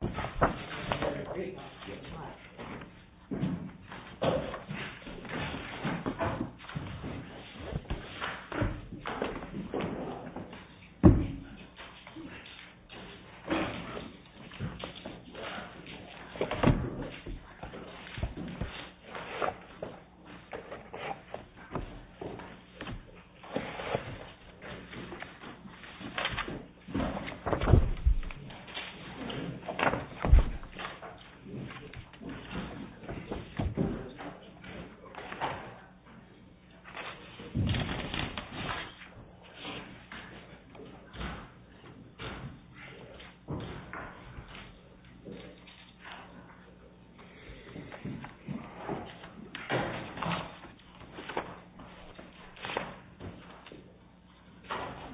v. United States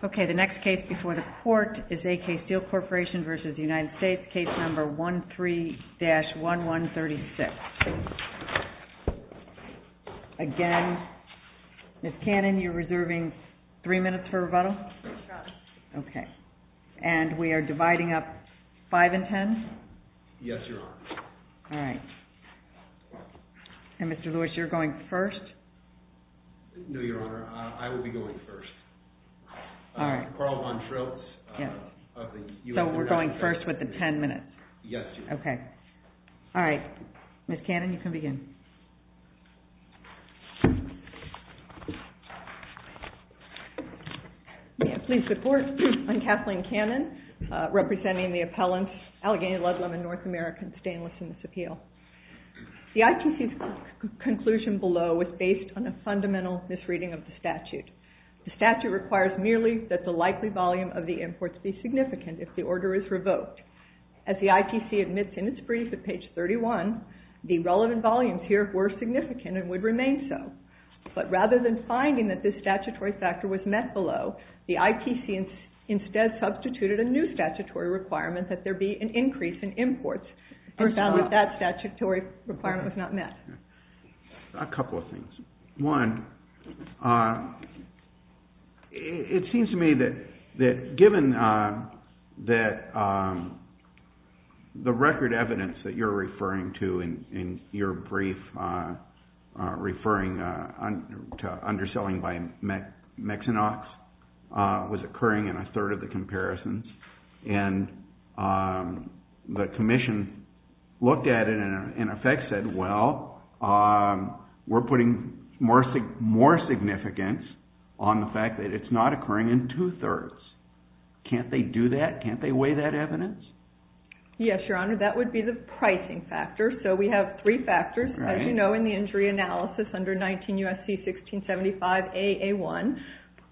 Okay, the next case before the court is AK Steel Corporation v. United States. Case number 13-1136. Again, Ms. Cannon, you're reserving three minutes for rebuttal? Yes, Your Honor. Okay. And we are dividing up five and ten? Yes, Your Honor. All right. And Mr. Lewis, you're going first? No, Your Honor. I will be going first. All right. Carl Von Trills of the United States. So we're going first with the ten minutes? Yes, Your Honor. Okay. All right. Ms. Cannon, you can begin. May I please report? I'm Kathleen Cannon, representing the appellants Allegheny Ludlam and North American Stainless in this appeal. The ITC's conclusion below was based on a fundamental misreading of the statute. The statute requires merely that the likely volume of the imports be significant if the order is revoked. As the ITC admits in its brief at page 31, the relevant volumes here were significant and would remain so. But rather than finding that this statutory factor was met below, the ITC instead substituted a new statutory requirement that there be an increase in imports and found that that statutory requirement was not met. A couple of things. One, it seems to me that given that the record evidence that you're referring to in your brief referring to underselling by Mexinox was occurring in a third of the comparisons and the commission looked at it and in effect said, well, we're putting more significance on the fact that it's not occurring in two-thirds. Can't they do that? Can't they weigh that evidence? Yes, Your Honor. That would be the pricing factor. So we have three factors, as you know, in the injury analysis under 19 U.S.C. 1675 A.A.1,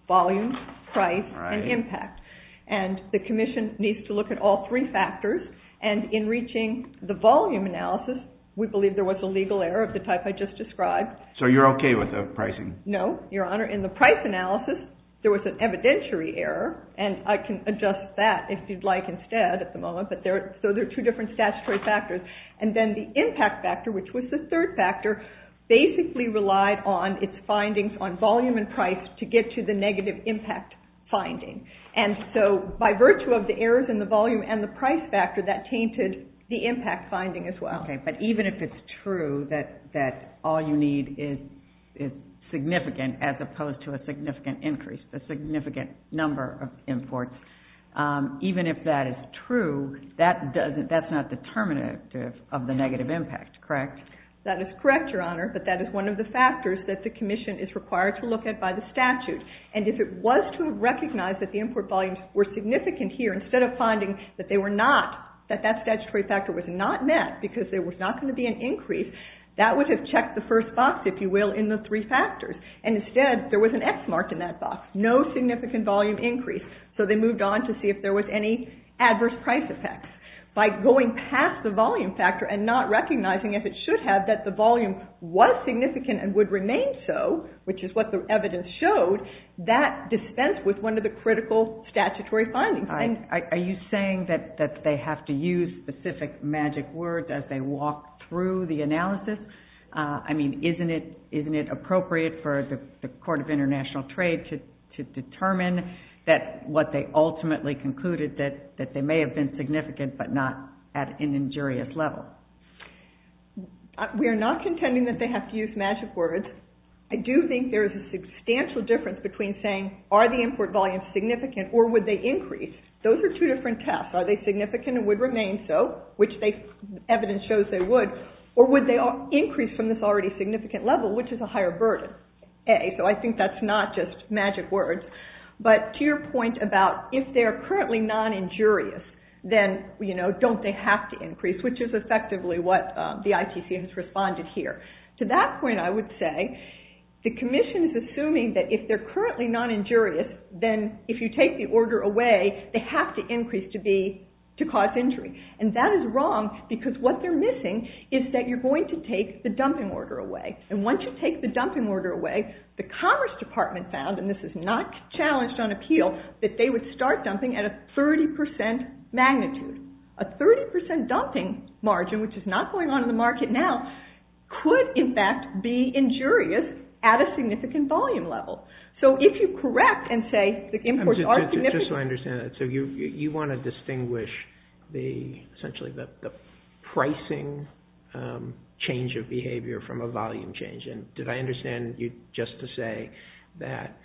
volume, price, and impact. And the commission needs to look at all three factors. And in reaching the volume analysis, we believe there was a legal error of the type I just described. So you're okay with the pricing? No, Your Honor. In the price analysis, there was an evidentiary error. And I can adjust that if you'd like instead at the moment. So there are two different statutory factors. And then the impact factor, which was the third factor, basically relied on its findings on volume and price to get to the negative impact finding. And so by virtue of the errors in the volume and the price factor, that tainted the impact finding as well. Okay. But even if it's true that all you need is significant as opposed to a significant increase, a significant number of imports, even if that is true, that's not determinative of the negative impact, correct? That is correct, Your Honor. But that is one of the factors that the commission is required to look at by the statute. And if it was to recognize that the import volumes were significant here, instead of finding that they were not, that that statutory factor was not met because there was not going to be an increase, that would have checked the first box, if you will, in the three factors. And instead, there was an X marked in that box. No significant volume increase. So they moved on to see if there was any adverse price effects. By going past the volume factor and not recognizing if it should have, that the volume was significant and would remain so, which is what the evidence showed, that dispensed with one of the critical statutory findings. Are you saying that they have to use specific magic words as they walk through the analysis? I mean, isn't it appropriate for the Court of International Trade to determine that what they ultimately concluded, that they may have been significant but not at an injurious level? We are not contending that they have to use magic words. I do think there is a substantial difference between saying, are the import volumes significant or would they increase? Those are two different tests. Are they significant and would remain so, which evidence shows they would? Or would they increase from this already significant level, which is a higher burden? So I think that's not just magic words. But to your point about if they are currently non-injurious, then don't they have to increase, which is effectively what the ITC has responded here. To that point, I would say the Commission is assuming that if they're currently non-injurious, then if you take the order away, they have to increase to cause injury. And that is wrong because what they're missing is that you're going to take the dumping order away. And once you take the dumping order away, the Commerce Department found, and this is not challenged on appeal, that they would start dumping at a 30% magnitude. A 30% dumping margin, which is not going on in the market now, could in fact be injurious at a significant volume level. So if you correct and say the imports are significant. Just so I understand that. So you want to distinguish essentially the pricing change of behavior from a volume change. Did I understand you just to say that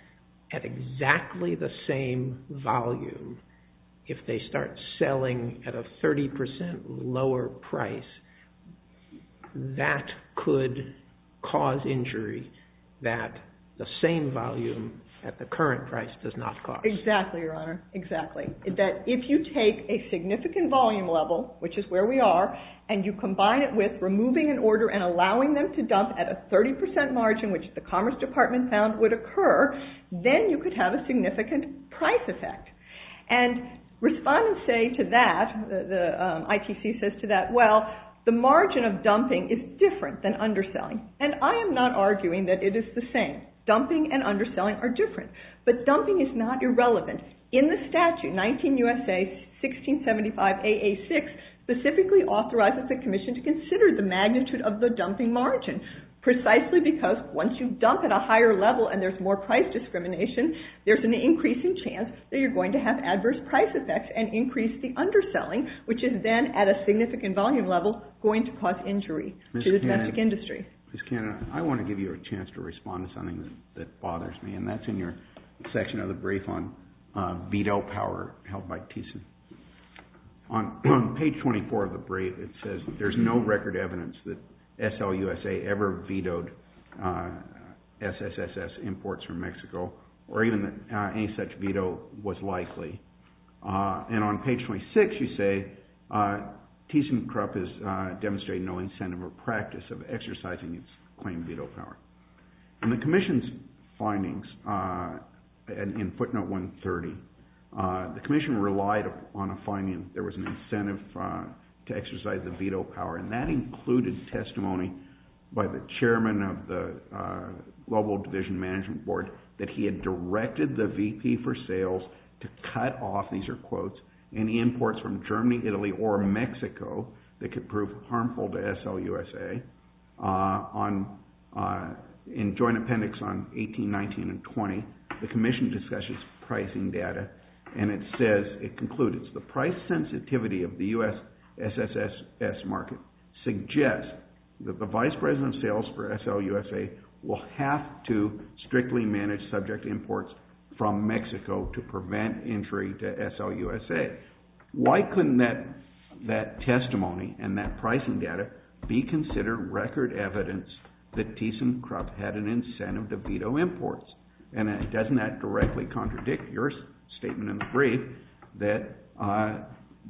at exactly the same volume, if they start selling at a 30% lower price, that could cause injury that the same volume at the current price does not cause? Exactly, Your Honor. Exactly. If you take a significant volume level, which is where we are, and you combine it with removing an order and allowing them to dump at a 30% margin, which the Commerce Department found would occur, then you could have a significant price effect. And respondents say to that, the ITC says to that, well, the margin of dumping is different than underselling. And I am not arguing that it is the same. Dumping and underselling are different. But dumping is not irrelevant. In the statute, 19 U.S.A. 1675 AA6, specifically authorizes the commission to consider the magnitude of the dumping margin. Precisely because once you dump at a higher level and there is more price discrimination, there is an increasing chance that you are going to have adverse price effects and increase the underselling, which is then at a significant volume level going to cause injury to the domestic industry. Ms. Cannon, I want to give you a chance to respond to something that bothers me, and that is in your section of the brief on veto power held by TCM. On page 24 of the brief, it says there is no record evidence that SLUSA ever vetoed SSSS imports from Mexico, or even that any such veto was likely. And on page 26, you say TCM crop has demonstrated no incentive or practice of exercising its claim veto power. In the commission's findings in footnote 130, the commission relied on a finding that there was an incentive to exercise the veto power, and that included testimony by the chairman of the Global Division Management Board that he had directed the VP for Sales to cut off, these are quotes, any imports from Germany, Italy, or Mexico that could prove harmful to SLUSA. In joint appendix on 18, 19, and 20, the commission discusses pricing data, and it says, it concludes, the price sensitivity of the U.S. SSSS market suggests that the Vice President of Sales for SLUSA will have to strictly manage subject imports from Mexico to prevent entry to SLUSA. Why couldn't that testimony and that pricing data be considered record evidence that TCM crop had an incentive to veto imports? And doesn't that directly contradict your statement in the brief that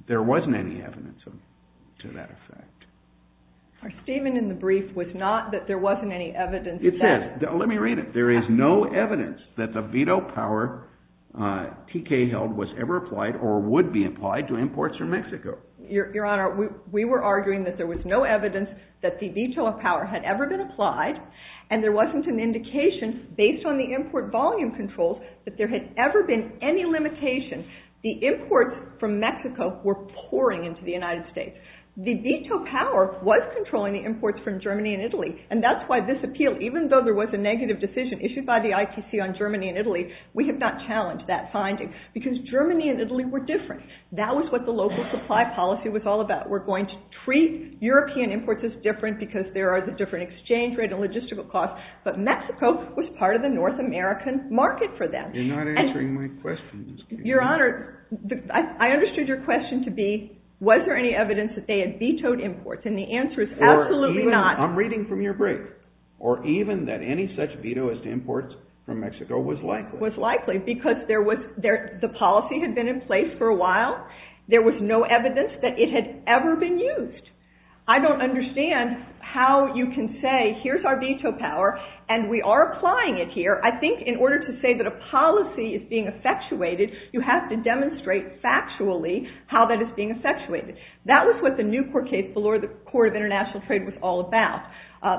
there wasn't any evidence to that effect? Our statement in the brief was not that there wasn't any evidence to that. It says, let me read it. There is no evidence that the veto power TK held was ever applied or would be applied to imports from Mexico. Your Honor, we were arguing that there was no evidence that the veto power had ever been applied, and there wasn't an indication based on the import volume controls that there had ever been any limitation. The imports from Mexico were pouring into the United States. The veto power was controlling the imports from Germany and Italy, and that's why this appeal, even though there was a negative decision issued by the ITC on Germany and Italy, we have not challenged that finding because Germany and Italy were different. That was what the local supply policy was all about. We're going to treat European imports as different because there are the different exchange rate and logistical costs, but Mexico was part of the North American market for them. You're not answering my question. Your Honor, I understood your question to be was there any evidence that they had vetoed imports, and the answer is absolutely not. I'm reading from your brief. Or even that any such veto as to imports from Mexico was likely. Was likely because the policy had been in place for a while. There was no evidence that it had ever been used. I don't understand how you can say here's our veto power, and we are applying it here. I think in order to say that a policy is being effectuated, you have to demonstrate factually how that is being effectuated. That was what the Newport case, the Court of International Trade, was all about.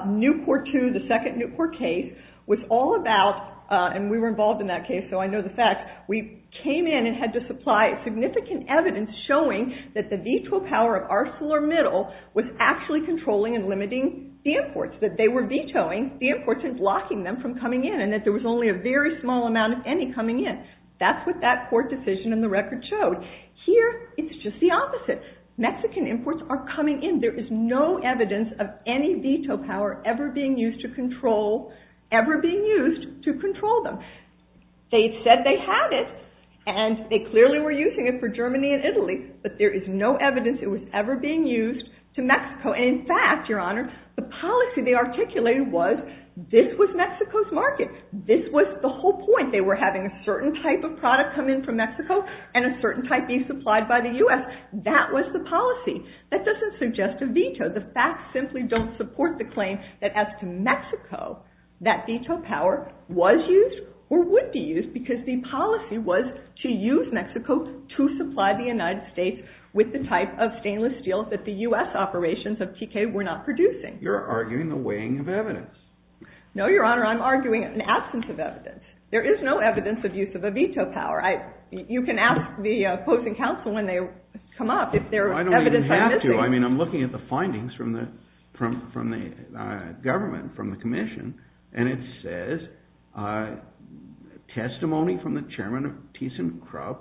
Newport II, the second Newport case, was all about, and we were involved in that case, so I know the facts, we came in and had to supply significant evidence showing that the veto power of ArcelorMittal was actually controlling and limiting the imports, that they were vetoing the imports and blocking them from coming in, and that there was only a very small amount of any coming in. That's what that court decision in the record showed. Here, it's just the opposite. Mexican imports are coming in. There is no evidence of any veto power ever being used to control them. They said they had it, and they clearly were using it for Germany and Italy, but there is no evidence it was ever being used to Mexico. In fact, Your Honor, the policy they articulated was this was Mexico's market. This was the whole point. They were having a certain type of product come in from Mexico and a certain type be supplied by the U.S. That was the policy. That doesn't suggest a veto. The facts simply don't support the claim that as to Mexico, that veto power was used or would be used, because the policy was to use Mexico to supply the United States with the type of stainless steel that the U.S. operations of TK were not producing. You're arguing the weighing of evidence. No, Your Honor. I'm arguing an absence of evidence. There is no evidence of use of a veto power. You can ask the opposing counsel when they come up if there is evidence I'm missing. I don't even have to. I mean, I'm looking at the findings from the government, from the commission, and it says testimony from the chairman of ThyssenKrupp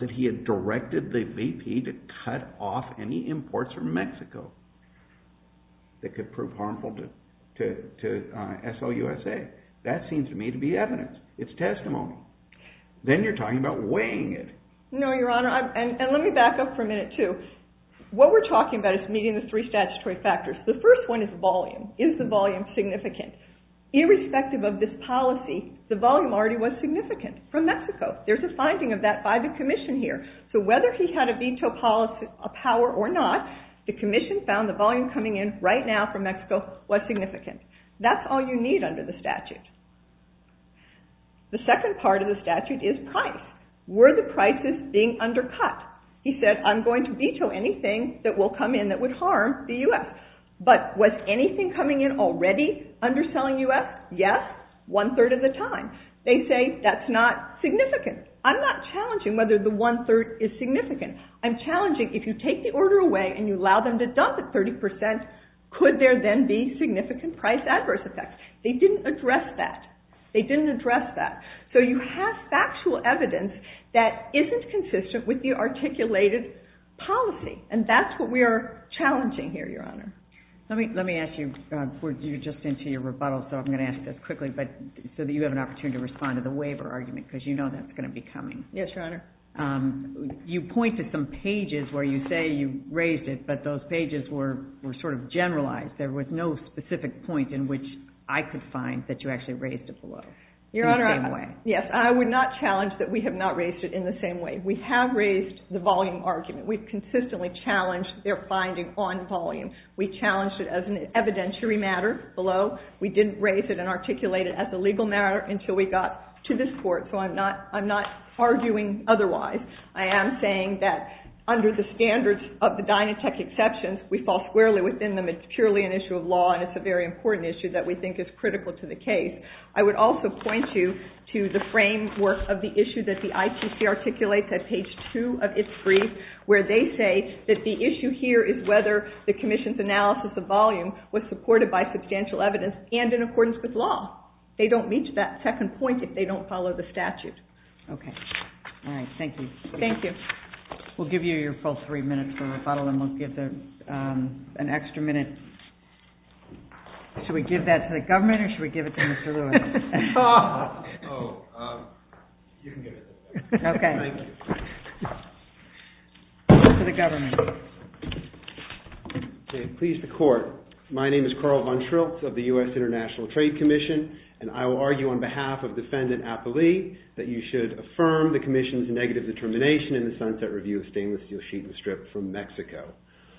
that he had directed the VP to cut off any imports from Mexico that could prove harmful to S.O.U.S.A. That seems to me to be evidence. It's testimony. Then you're talking about weighing it. No, Your Honor, and let me back up for a minute too. What we're talking about is meeting the three statutory factors. The first one is volume. Is the volume significant? Irrespective of this policy, the volume already was significant from Mexico. There's a finding of that by the commission here. So whether he had a veto power or not, the commission found the volume coming in right now from Mexico was significant. That's all you need under the statute. The second part of the statute is price. Were the prices being undercut? He said, I'm going to veto anything that will come in that would harm the U.S. But was anything coming in already underselling U.S.? Yes, one-third of the time. They say that's not significant. I'm not challenging whether the one-third is significant. I'm challenging if you take the order away and you allow them to dump it 30 percent, could there then be significant price adverse effects? They didn't address that. They didn't address that. So you have factual evidence that isn't consistent with the articulated policy, and that's what we are challenging here, Your Honor. Let me ask you, we're just into your rebuttal, so I'm going to ask this quickly so that you have an opportunity to respond to the waiver argument because you know that's going to be coming. Yes, Your Honor. You point to some pages where you say you raised it, but those pages were sort of generalized. There was no specific point in which I could find that you actually raised it below. Your Honor, yes, I would not challenge that we have not raised it in the same way. We have raised the volume argument. We've consistently challenged their finding on volume. We challenged it as an evidentiary matter below. We didn't raise it and articulate it as a legal matter until we got to this court, so I'm not arguing otherwise. I am saying that under the standards of the Dynatech exceptions, we fall squarely within them. It's purely an issue of law, and it's a very important issue that we think is critical to the case. I would also point you to the framework of the issue that the ITC articulates at page 2 of its brief where they say that the issue here is whether the commission's analysis of volume was supported by substantial evidence and in accordance with law. They don't reach that second point if they don't follow the statute. Okay. All right. Thank you. Thank you. We'll give you your full three minutes for rebuttal, and we'll give an extra minute. Should we give that to the government, or should we give it to Mr. Lewis? Oh, you can give it to me. Okay. Thank you. To the government. Okay. Please, the court. My name is Carl Von Schriltz of the U.S. International Trade Commission, and I will argue on behalf of Defendant Apolli that you should affirm the commission's negative determination in the Sunset Review of Stainless Steel Sheet and Strip from Mexico.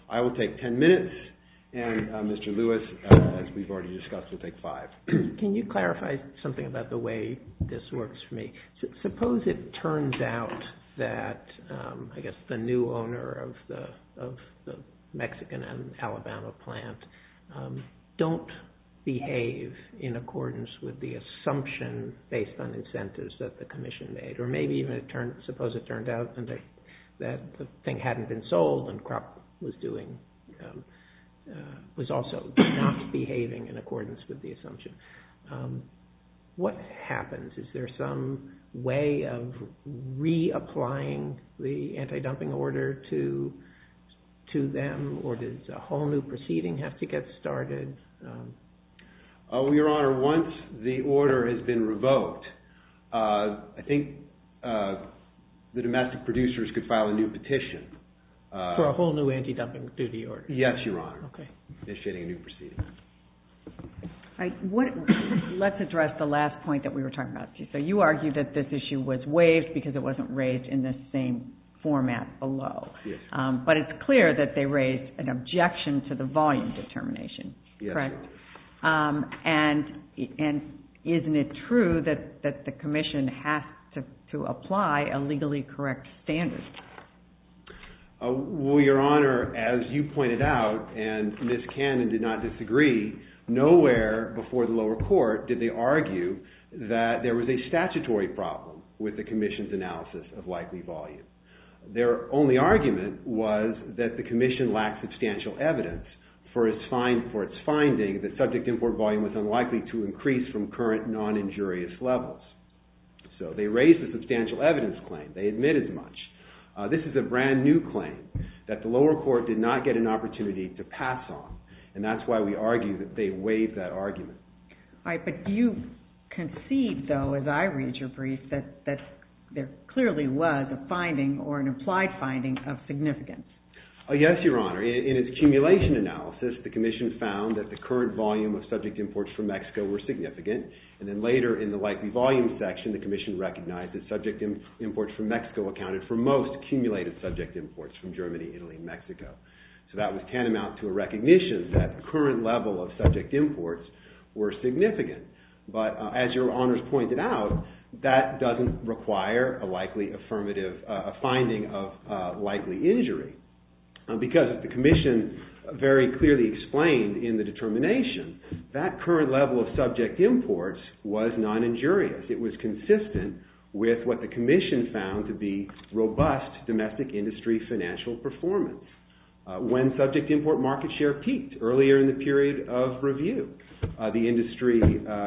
I will take 10 minutes, and Mr. Lewis, as we've already discussed, will take five. Can you clarify something about the way this works for me? Suppose it turns out that, I guess, the new owner of the Mexican and Alabama plant don't behave in accordance with the assumption based on incentives that the commission made, or maybe even suppose it turned out that the thing hadn't been sold and Krupp was also not behaving in accordance with the assumption. What happens? Is there some way of reapplying the anti-dumping order to them, or does a whole new proceeding have to get started? Your Honor, once the order has been revoked, I think the domestic producers could file a new petition. For a whole new anti-dumping duty order? Yes, Your Honor. Okay. Initiating a new proceeding. Let's address the last point that we were talking about. You argued that this issue was waived because it wasn't raised in the same format below. Yes. But it's clear that they raised an objection to the volume determination, correct? Yes. And isn't it true that the commission has to apply a legally correct standard? Well, Your Honor, as you pointed out, and Ms. Cannon did not disagree, nowhere before the lower court did they argue that there was a statutory problem with the commission's analysis of likely volume. Their only argument was that the commission lacked substantial evidence for its finding that subject import volume was unlikely to increase from current non-injurious levels. So they raised a substantial evidence claim. They admit as much. This is a brand new claim that the lower court did not get an opportunity to pass on, and that's why we argue that they waived that argument. But you concede, though, as I read your brief, that there clearly was a finding or an implied finding of significance. Yes, Your Honor. In its accumulation analysis, the commission found that the current volume of subject imports from Mexico were significant, and then later in the likely volume section, the commission recognized that subject imports from Mexico accounted for most accumulated subject imports from Germany, Italy, and Mexico. So that was tantamount to a recognition that the current level of subject imports were significant. But as Your Honors pointed out, that doesn't require a likely affirmative finding of likely injury, because the commission very clearly explained in the determination that current level of subject imports was non-injurious. It was consistent with what the commission found to be robust domestic industry financial performance. When subject import market share peaked earlier in the period of review, the industry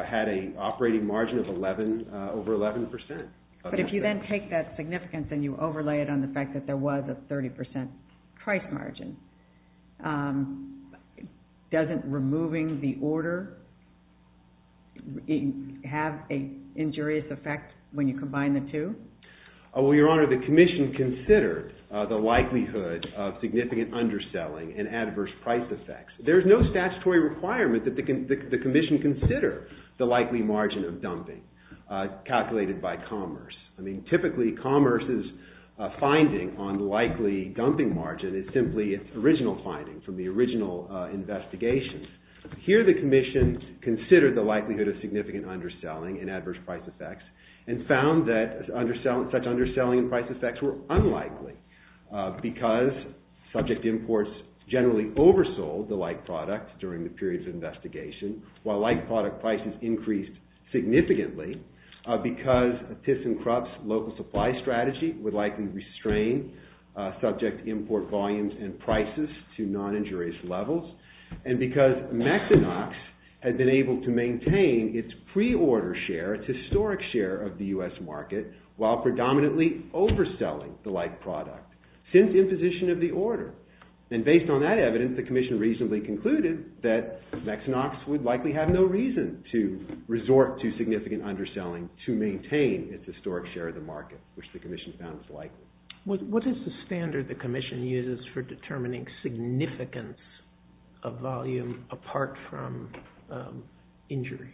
had an operating margin of over 11%. But if you then take that significance and you overlay it on the fact that there was a 30% price margin, doesn't removing the order have an injurious effect when you combine the two? Well, Your Honor, the commission considered the likelihood of significant underselling and adverse price effects. There's no statutory requirement that the commission consider the likely margin of dumping calculated by Commerce. I mean, typically Commerce's finding on likely dumping margin is simply its original finding from the original investigation. Here the commission considered the likelihood of significant underselling and adverse price effects and found that such underselling and price effects were unlikely because subject imports generally oversold the like product during the period of investigation, while like product prices increased significantly because Tiff's and Krupp's local supply strategy would likely restrain subject import volumes and prices to non-injurious levels, and because Mexinox had been able to maintain its pre-order share, its historic share of the U.S. market, while predominantly overselling the like product since imposition of the order. And based on that evidence, the commission reasonably concluded that Mexinox would likely have no reason to resort to significant underselling to maintain its historic share of the market, which the commission found was likely. What is the standard the commission uses for determining significance of volume apart from injury?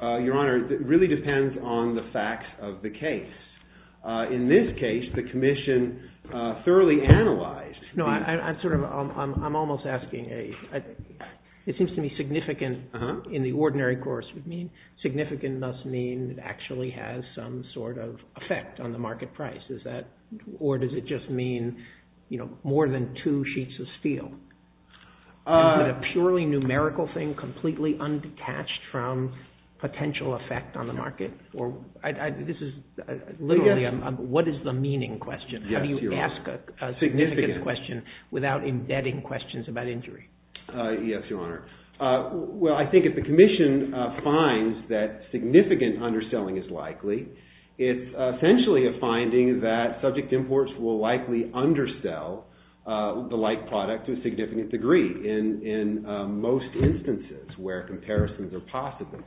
Your Honor, it really depends on the facts of the case. In this case, the commission thoroughly analyzed... No, I'm sort of... I'm almost asking a... It seems to me significant in the ordinary course would mean... Is that... Or does it just mean, you know, more than two sheets of steel? Would a purely numerical thing completely undetached from potential effect on the market? This is literally a... What is the meaning question? How do you ask a significance question without embedding questions about injury? Yes, Your Honor. Well, I think if the commission finds that significant underselling is likely, it's essentially a finding that subject imports will likely undersell the like product to a significant degree in most instances where comparisons are possible.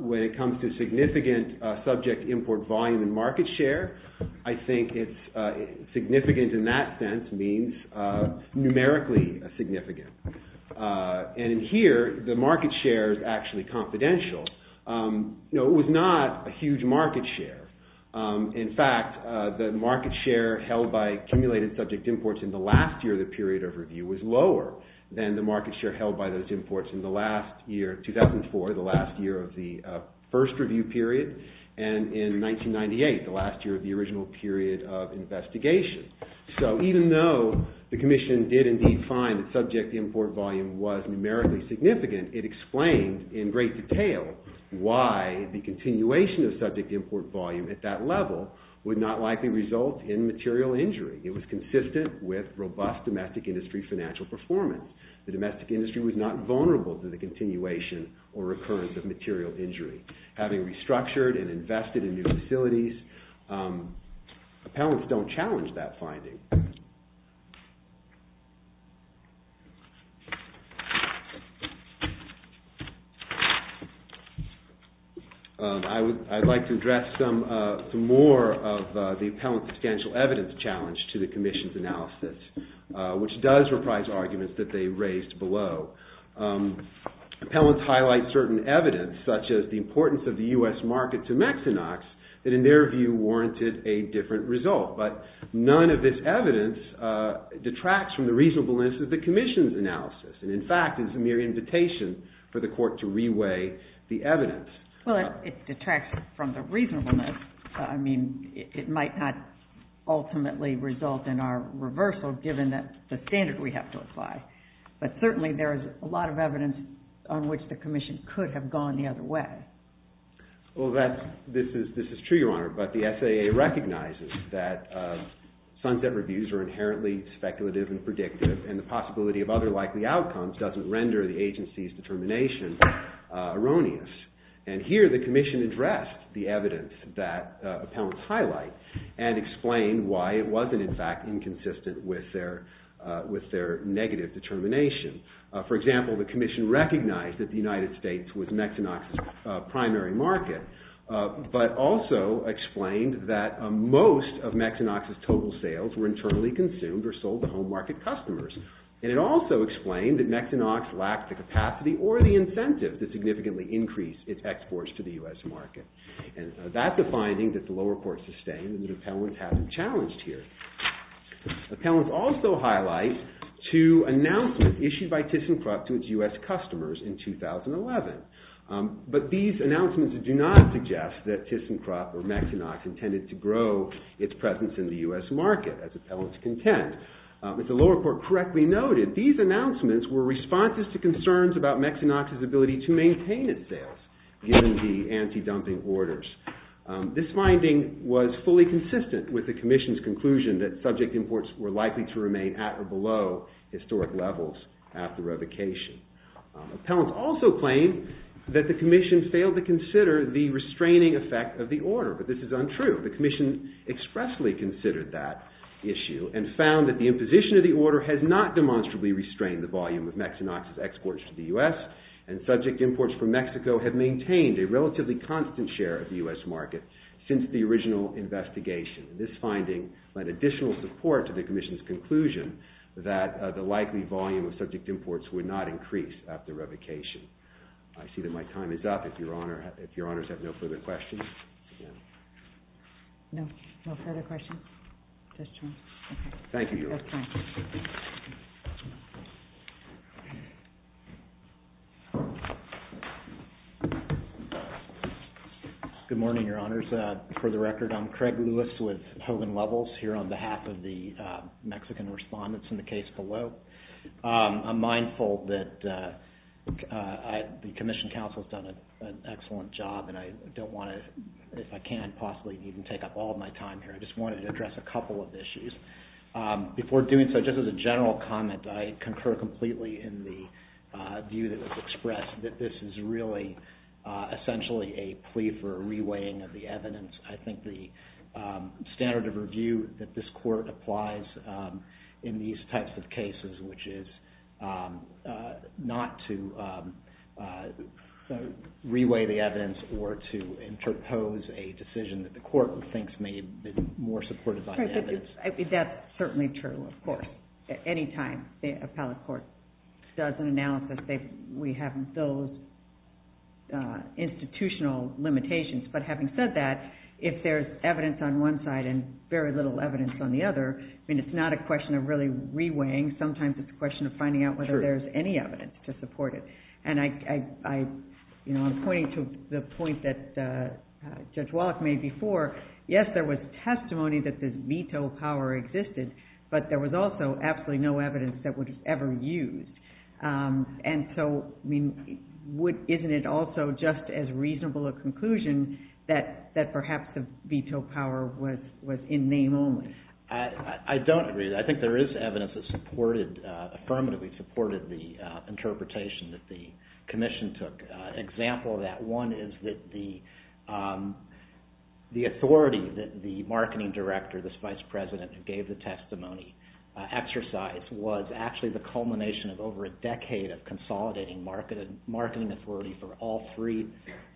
When it comes to significant subject import volume in market share, I think it's significant in that sense means numerically significant. And in here, the market share is actually confidential. You know, it was not a huge market share. In fact, the market share held by accumulated subject imports in the last year of the period of review was lower than the market share held by those imports in the last year, 2004, the last year of the first review period, and in 1998, the last year of the original period of investigation. So even though the commission did indeed find that subject import volume was numerically significant, it explained in great detail why the continuation of subject import volume at that level would not likely result in material injury. It was consistent with robust domestic industry financial performance. The domestic industry was not vulnerable to the continuation or recurrence of material injury. Having restructured and invested in new facilities, appellants don't challenge that finding. I would like to address some more of the appellant's substantial evidence challenge to the commission's analysis, which does reprise arguments that they raised below. Appellants highlight certain evidence such as the importance of the U.S. market to Mexinox that in their view warranted a different result. But none of this evidence is consistent with the commission's analysis. In fact, it's a mere invitation for the court to reweigh the evidence. Well, it detracts from the reasonableness. I mean, it might not ultimately result in our reversal given that the standard we have to apply. But certainly there is a lot of evidence on which the commission could have gone the other way. Well, this is true, Your Honor, but the SAA recognizes that sunset reviews are inherently speculative and predictive and the possibility of other likely outcomes doesn't render the agency's determination erroneous. And here the commission addressed the evidence that appellants highlight and explained why it wasn't in fact inconsistent with their negative determination. For example, the commission recognized that the United States was Mexinox's primary market but also explained that most of Mexinox's total sales were internally consumed or sold to home market customers. And it also explained that Mexinox lacked the capacity or the incentive to significantly increase its exports to the U.S. market. And that's a finding that the lower court sustained and that appellants haven't challenged here. Appellants also highlight two announcements issued by ThyssenKrupp to its U.S. customers in 2011. But these announcements do not suggest that ThyssenKrupp or Mexinox intended to grow its presence in the U.S. market as appellants contend. If the lower court correctly noted, these announcements were responses to concerns about Mexinox's ability to maintain its sales given the anti-dumping orders. This finding was fully consistent with the commission's conclusion that subject imports were likely to remain at or below historic levels after revocation. Appellants also claim that the commission failed to consider the restraining effect of the order. But this is untrue. The commission expressly considered that issue and found that the imposition of the order has not demonstrably restrained the volume of Mexinox's exports to the U.S. and subject imports from Mexico have maintained a relatively constant share of the U.S. market since the original investigation. This finding led additional support to the commission's conclusion that the likely volume of subject imports would not increase after revocation. I see that my time is up. If your honors have no further questions. No. No further questions? Thank you, Your Honor. Good morning, Your Honors. For the record, I'm Craig Lewis with Hogan Levels here on behalf of the Mexican respondents in the case below. I'm mindful that the commission counsel has done an excellent job and I don't want to, if I can, possibly even take up all of my time here. I just wanted to address a couple of issues. Before doing so, just as a general comment, I concur completely in the view that was expressed that this is really essentially a plea for a reweighing of the evidence. I think the standard of review that this court applies in these types of cases, which is not to reweigh the evidence or to interpose a decision that the court thinks may be more supported by the evidence. That's certainly true, of course. Any time the appellate court does an analysis, we have those institutional limitations. But having said that, if there's evidence on one side and very little evidence on the other, it's not a question of really reweighing. Sometimes it's a question of finding out whether there's any evidence to support it. I'm pointing to the point that Judge Wallach made before. Yes, there was testimony that this veto power existed, but there was also absolutely no evidence that was ever used. Isn't it also just as reasonable a conclusion that perhaps the veto power was in name only? I don't agree. I think there is evidence that affirmatively supported the interpretation that the Commission took. An example of that one is that the authority that the marketing director, this vice president, who gave the testimony exercise was actually the culmination of over a decade of consolidating marketing authority for all three.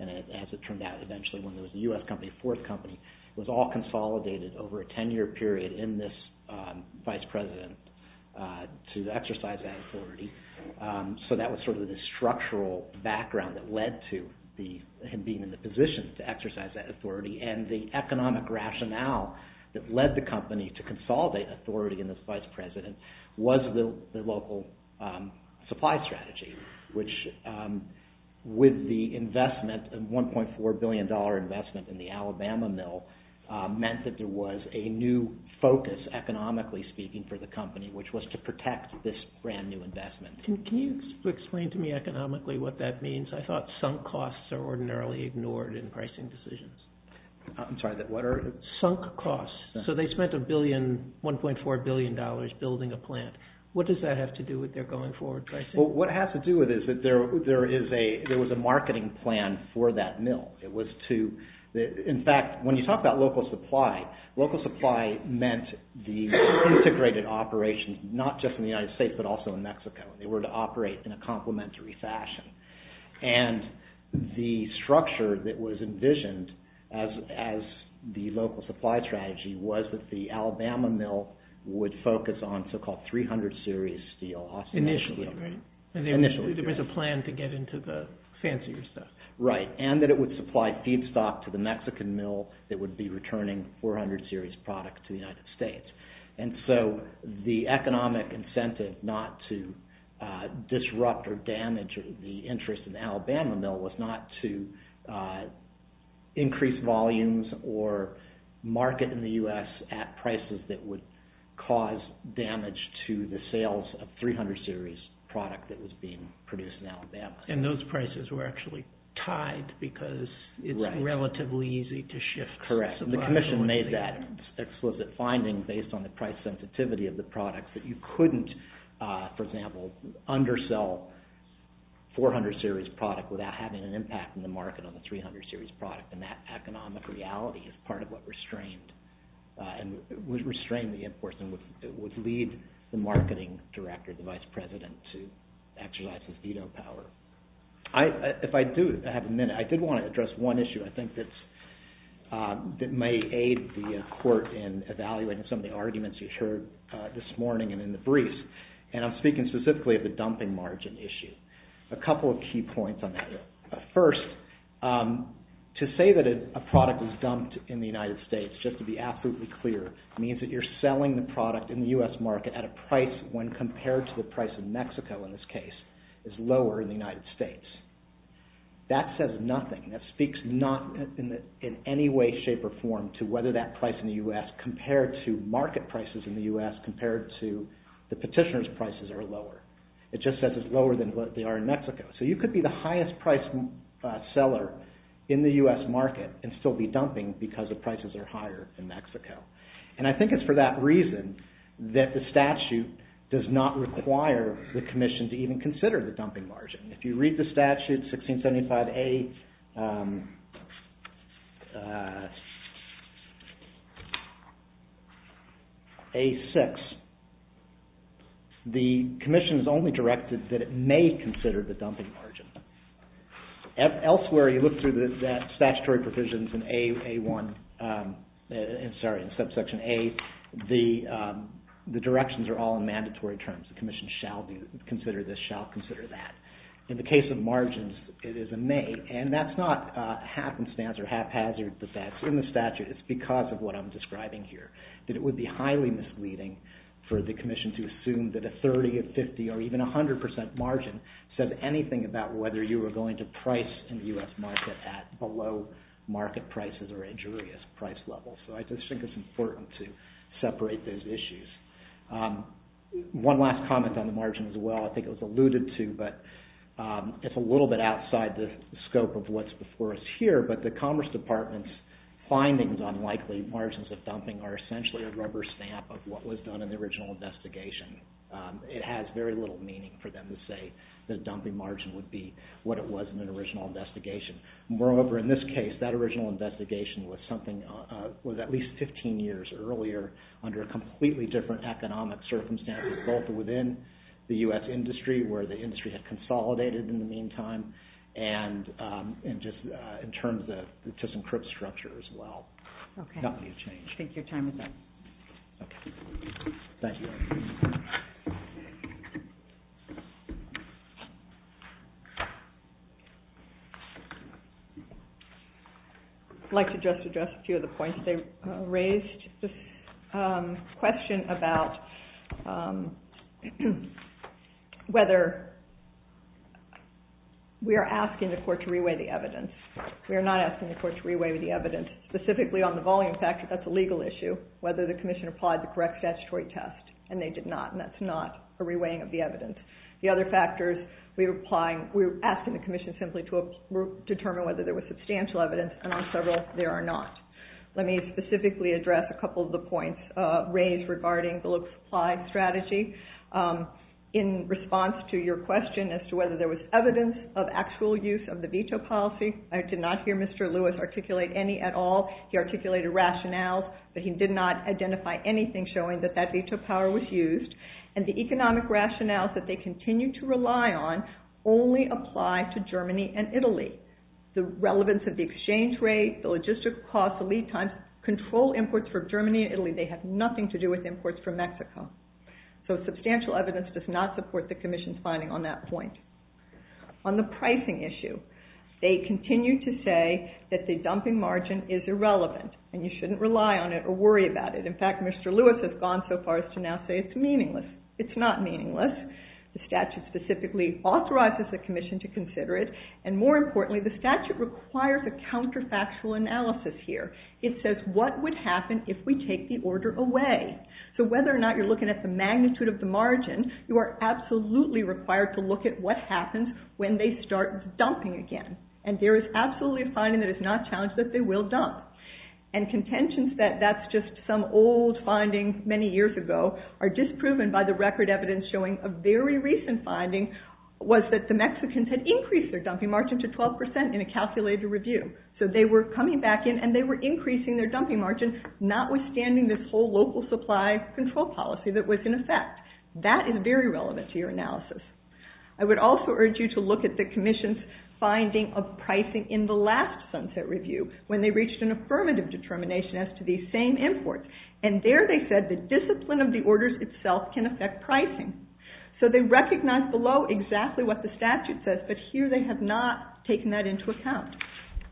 And as it turned out eventually, when there was a U.S. company, a fourth company, it was all consolidated over a 10-year period in this vice president to exercise that authority. So that was sort of the structural background that led to him being in the position to exercise that authority. And the economic rationale that led the company to consolidate authority in this vice president was the local supply strategy, which with the investment, $1.4 billion investment in the Alabama mill meant that there was a new focus, economically speaking, for the company, which was to protect this brand new investment. Can you explain to me economically what that means? I thought sunk costs are ordinarily ignored in pricing decisions. I'm sorry, what are... Sunk costs. So they spent $1.4 billion building a plant. What does that have to do with their going forward pricing? What it has to do with is that there was a marketing plan for that mill. It was to... In fact, when you talk about local supply, local supply meant the integrated operations, not just in the United States, but also in Mexico. They were to operate in a complementary fashion. And the structure that was envisioned as the local supply strategy was that the Alabama mill would focus on so-called 300 series steel. Initially, right? Initially. There was a plan to get into the fancier stuff. Right. And that it would supply feedstock to the Mexican mill that would be returning 400 series product to the United States. And so the economic incentive not to disrupt or damage the interest in the Alabama mill was not to increase volumes or market in the US at prices that would cause damage to the sales of 300 series product that was being produced in Alabama. And those prices were actually tied because it's relatively easy to shift supply. Correct. And the commission made that explicit finding based on the price sensitivity of the product that you couldn't, for example, undersell 400 series product without having an impact in the market on the 300 series product. And that economic reality is part of what restrained... would restrain the imports and would lead the marketing director, the vice president to exercise his veto power. If I do have a minute, I did want to address one issue I think that's... that may aid the court in evaluating some of the arguments you heard this morning and in the briefs. And I'm speaking specifically of the dumping margin issue. A couple of key points on that. First, to say that a product is dumped in the United States, just to be absolutely clear, means that you're selling the product in the US market at a price when compared to the price in Mexico, in this case, is lower in the United States. That says nothing. That speaks not in any way, shape, or form to whether that price in the US compared to market prices in the US compared to the petitioner's prices are lower. It just says it's lower than they are in Mexico. So you could be the highest priced seller in the US market and still be dumping because the prices are higher in Mexico. And I think it's for that reason that the statute does not require the commission to even consider the dumping margin. If you read the statute, 1675A... A6, the commission is only directed that it may consider the dumping margin. Elsewhere, you look through the statutory provisions in A1... The directions are all in mandatory terms. The commission shall consider this, shall consider that. In the case of margins, it is a may, and that's not a happenstance or haphazard, but that's in the statute. It's because of what I'm describing here, that it would be highly misleading for the commission to assume that a 30%, a 50%, or even a 100% margin said anything about whether you were going to price in the US market at below market prices or injurious price levels. So I just think it's important to separate those issues. One last comment on the margin as well, I think it was alluded to, but it's a little bit outside the scope of what's before us here, but the Commerce Department's findings on likely margins of dumping are essentially a rubber stamp of what was done in the original investigation. It has very little meaning for them to say that a dumping margin would be what it was in an original investigation. Moreover, in this case, that original investigation was at least 15 years earlier under a completely different economic circumstance, both within the US industry, where the industry had consolidated in the meantime, and just in terms of the disencrypt structure as well. Nothing has changed. Take your time with that. Okay. Thank you. I'd like to just address a few of the points they raised. Just a question about whether we are asking the court to re-weigh the evidence. We are not asking the court to re-weigh the evidence, specifically on the volume factor. That's a legal issue, And I think that's a good question. And they did not, and that's not a re-weighing of the evidence. The other factors we're applying, we're asking the commission simply to determine whether there was substantial evidence, and on several, there are not. Let me specifically address a couple of the points raised regarding the low-supply strategy. In response to your question as to whether there was evidence of actual use of the veto policy, I did not hear Mr. Lewis articulate any at all. He articulated rationales, but he did not identify anything showing that that veto power was used, and the economic rationales that they continue to rely on only apply to Germany and Italy. The relevance of the exchange rate, the logistical costs, the lead times, control imports for Germany and Italy. They have nothing to do with imports from Mexico. So substantial evidence does not support the commission's finding on that point. On the pricing issue, they continue to say that the dumping margin is irrelevant, and you shouldn't rely on it or worry about it. In fact, Mr. Lewis has gone so far as to now say it's meaningless. It's not meaningless. The statute specifically authorizes the commission to consider it, and more importantly, the statute requires a counterfactual analysis here. It says what would happen if we take the order away? So whether or not you're looking at the magnitude of the margin, you are absolutely required to look at what happens when they start dumping again, and there is absolutely a finding that is not challenged that they will dump. And contentions that that's just some old finding many years ago are disproven by the record evidence showing a very recent finding was that the Mexicans had increased their dumping margin to 12% in a calculated review. So they were coming back in, and they were increasing their dumping margin, notwithstanding this whole local supply control policy that was in effect. That is very relevant to your analysis. I would also urge you to look at the commission's finding of pricing in the last sunset review when they reached an affirmative determination as to these same imports, and there they said the discipline of the orders itself can affect pricing. So they recognize below exactly what the statute says, but here they have not taken that into account.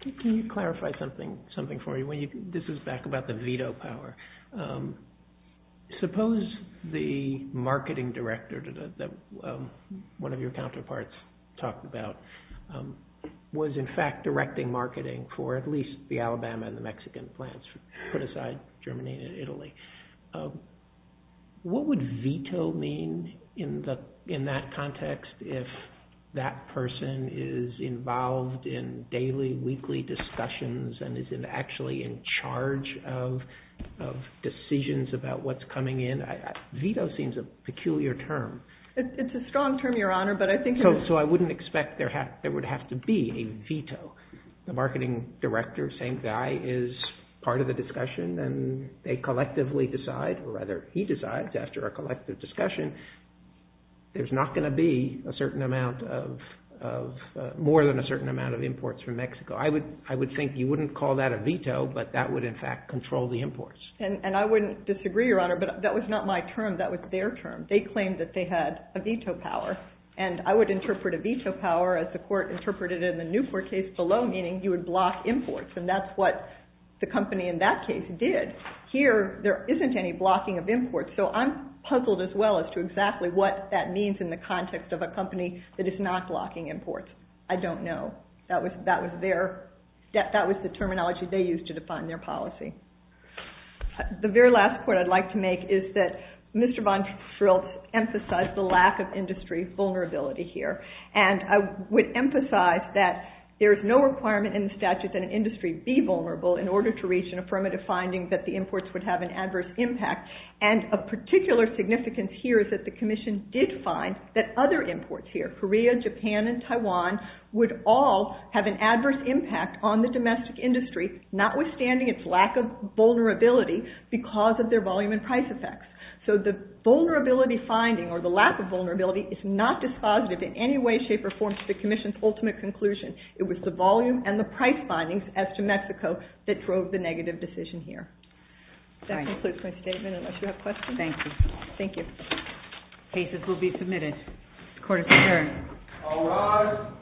Can you clarify something for me? This is back about the veto power. Suppose the marketing director that one of your counterparts talked about was in fact directing marketing for at least the Alabama and the Mexican plants, put aside Germany and Italy. What would veto mean in that context if that person is involved in daily, weekly discussions and is actually in charge of decisions about what's coming in? Veto seems a peculiar term. It's a strong term, Your Honor, but I think... So I wouldn't expect there would have to be a veto. The marketing director, same guy, is part of the discussion, and they collectively decide, or rather he decides after a collective discussion, there's not going to be a certain amount of... more than a certain amount of imports from Mexico. I would think you wouldn't call that a veto, but that would in fact control the imports. And I wouldn't disagree, Your Honor, but that was not my term. That was their term. They claimed that they had a veto power, and I would interpret a veto power as the court interpreted it in the Newport case below, meaning you would block imports, and that's what the company in that case did. Here, there isn't any blocking of imports, so I'm puzzled as well as to exactly what that means in the context of a company that is not blocking imports. I don't know. That was their... That was the terminology they used to define their policy. The very last point I'd like to make is that Mr. Von Schrill emphasized the lack of industry vulnerability here, and I would emphasize that there is no requirement in the statute that an industry be vulnerable in order to reach an affirmative finding that the imports would have an adverse impact, and of particular significance here is that the Commission did find that other imports here, Korea, Japan, and Taiwan, would all have an adverse impact on the domestic industry, notwithstanding its lack of vulnerability because of their volume and price effects. So the vulnerability finding, or the lack of vulnerability, is not dispositive in any way, shape, or form to the Commission's ultimate conclusion. It was the volume and the price findings as to Mexico that drove the negative decision here. That concludes my statement, unless you have questions. Thank you. Thank you. Cases will be submitted. Court is adjourned. All rise.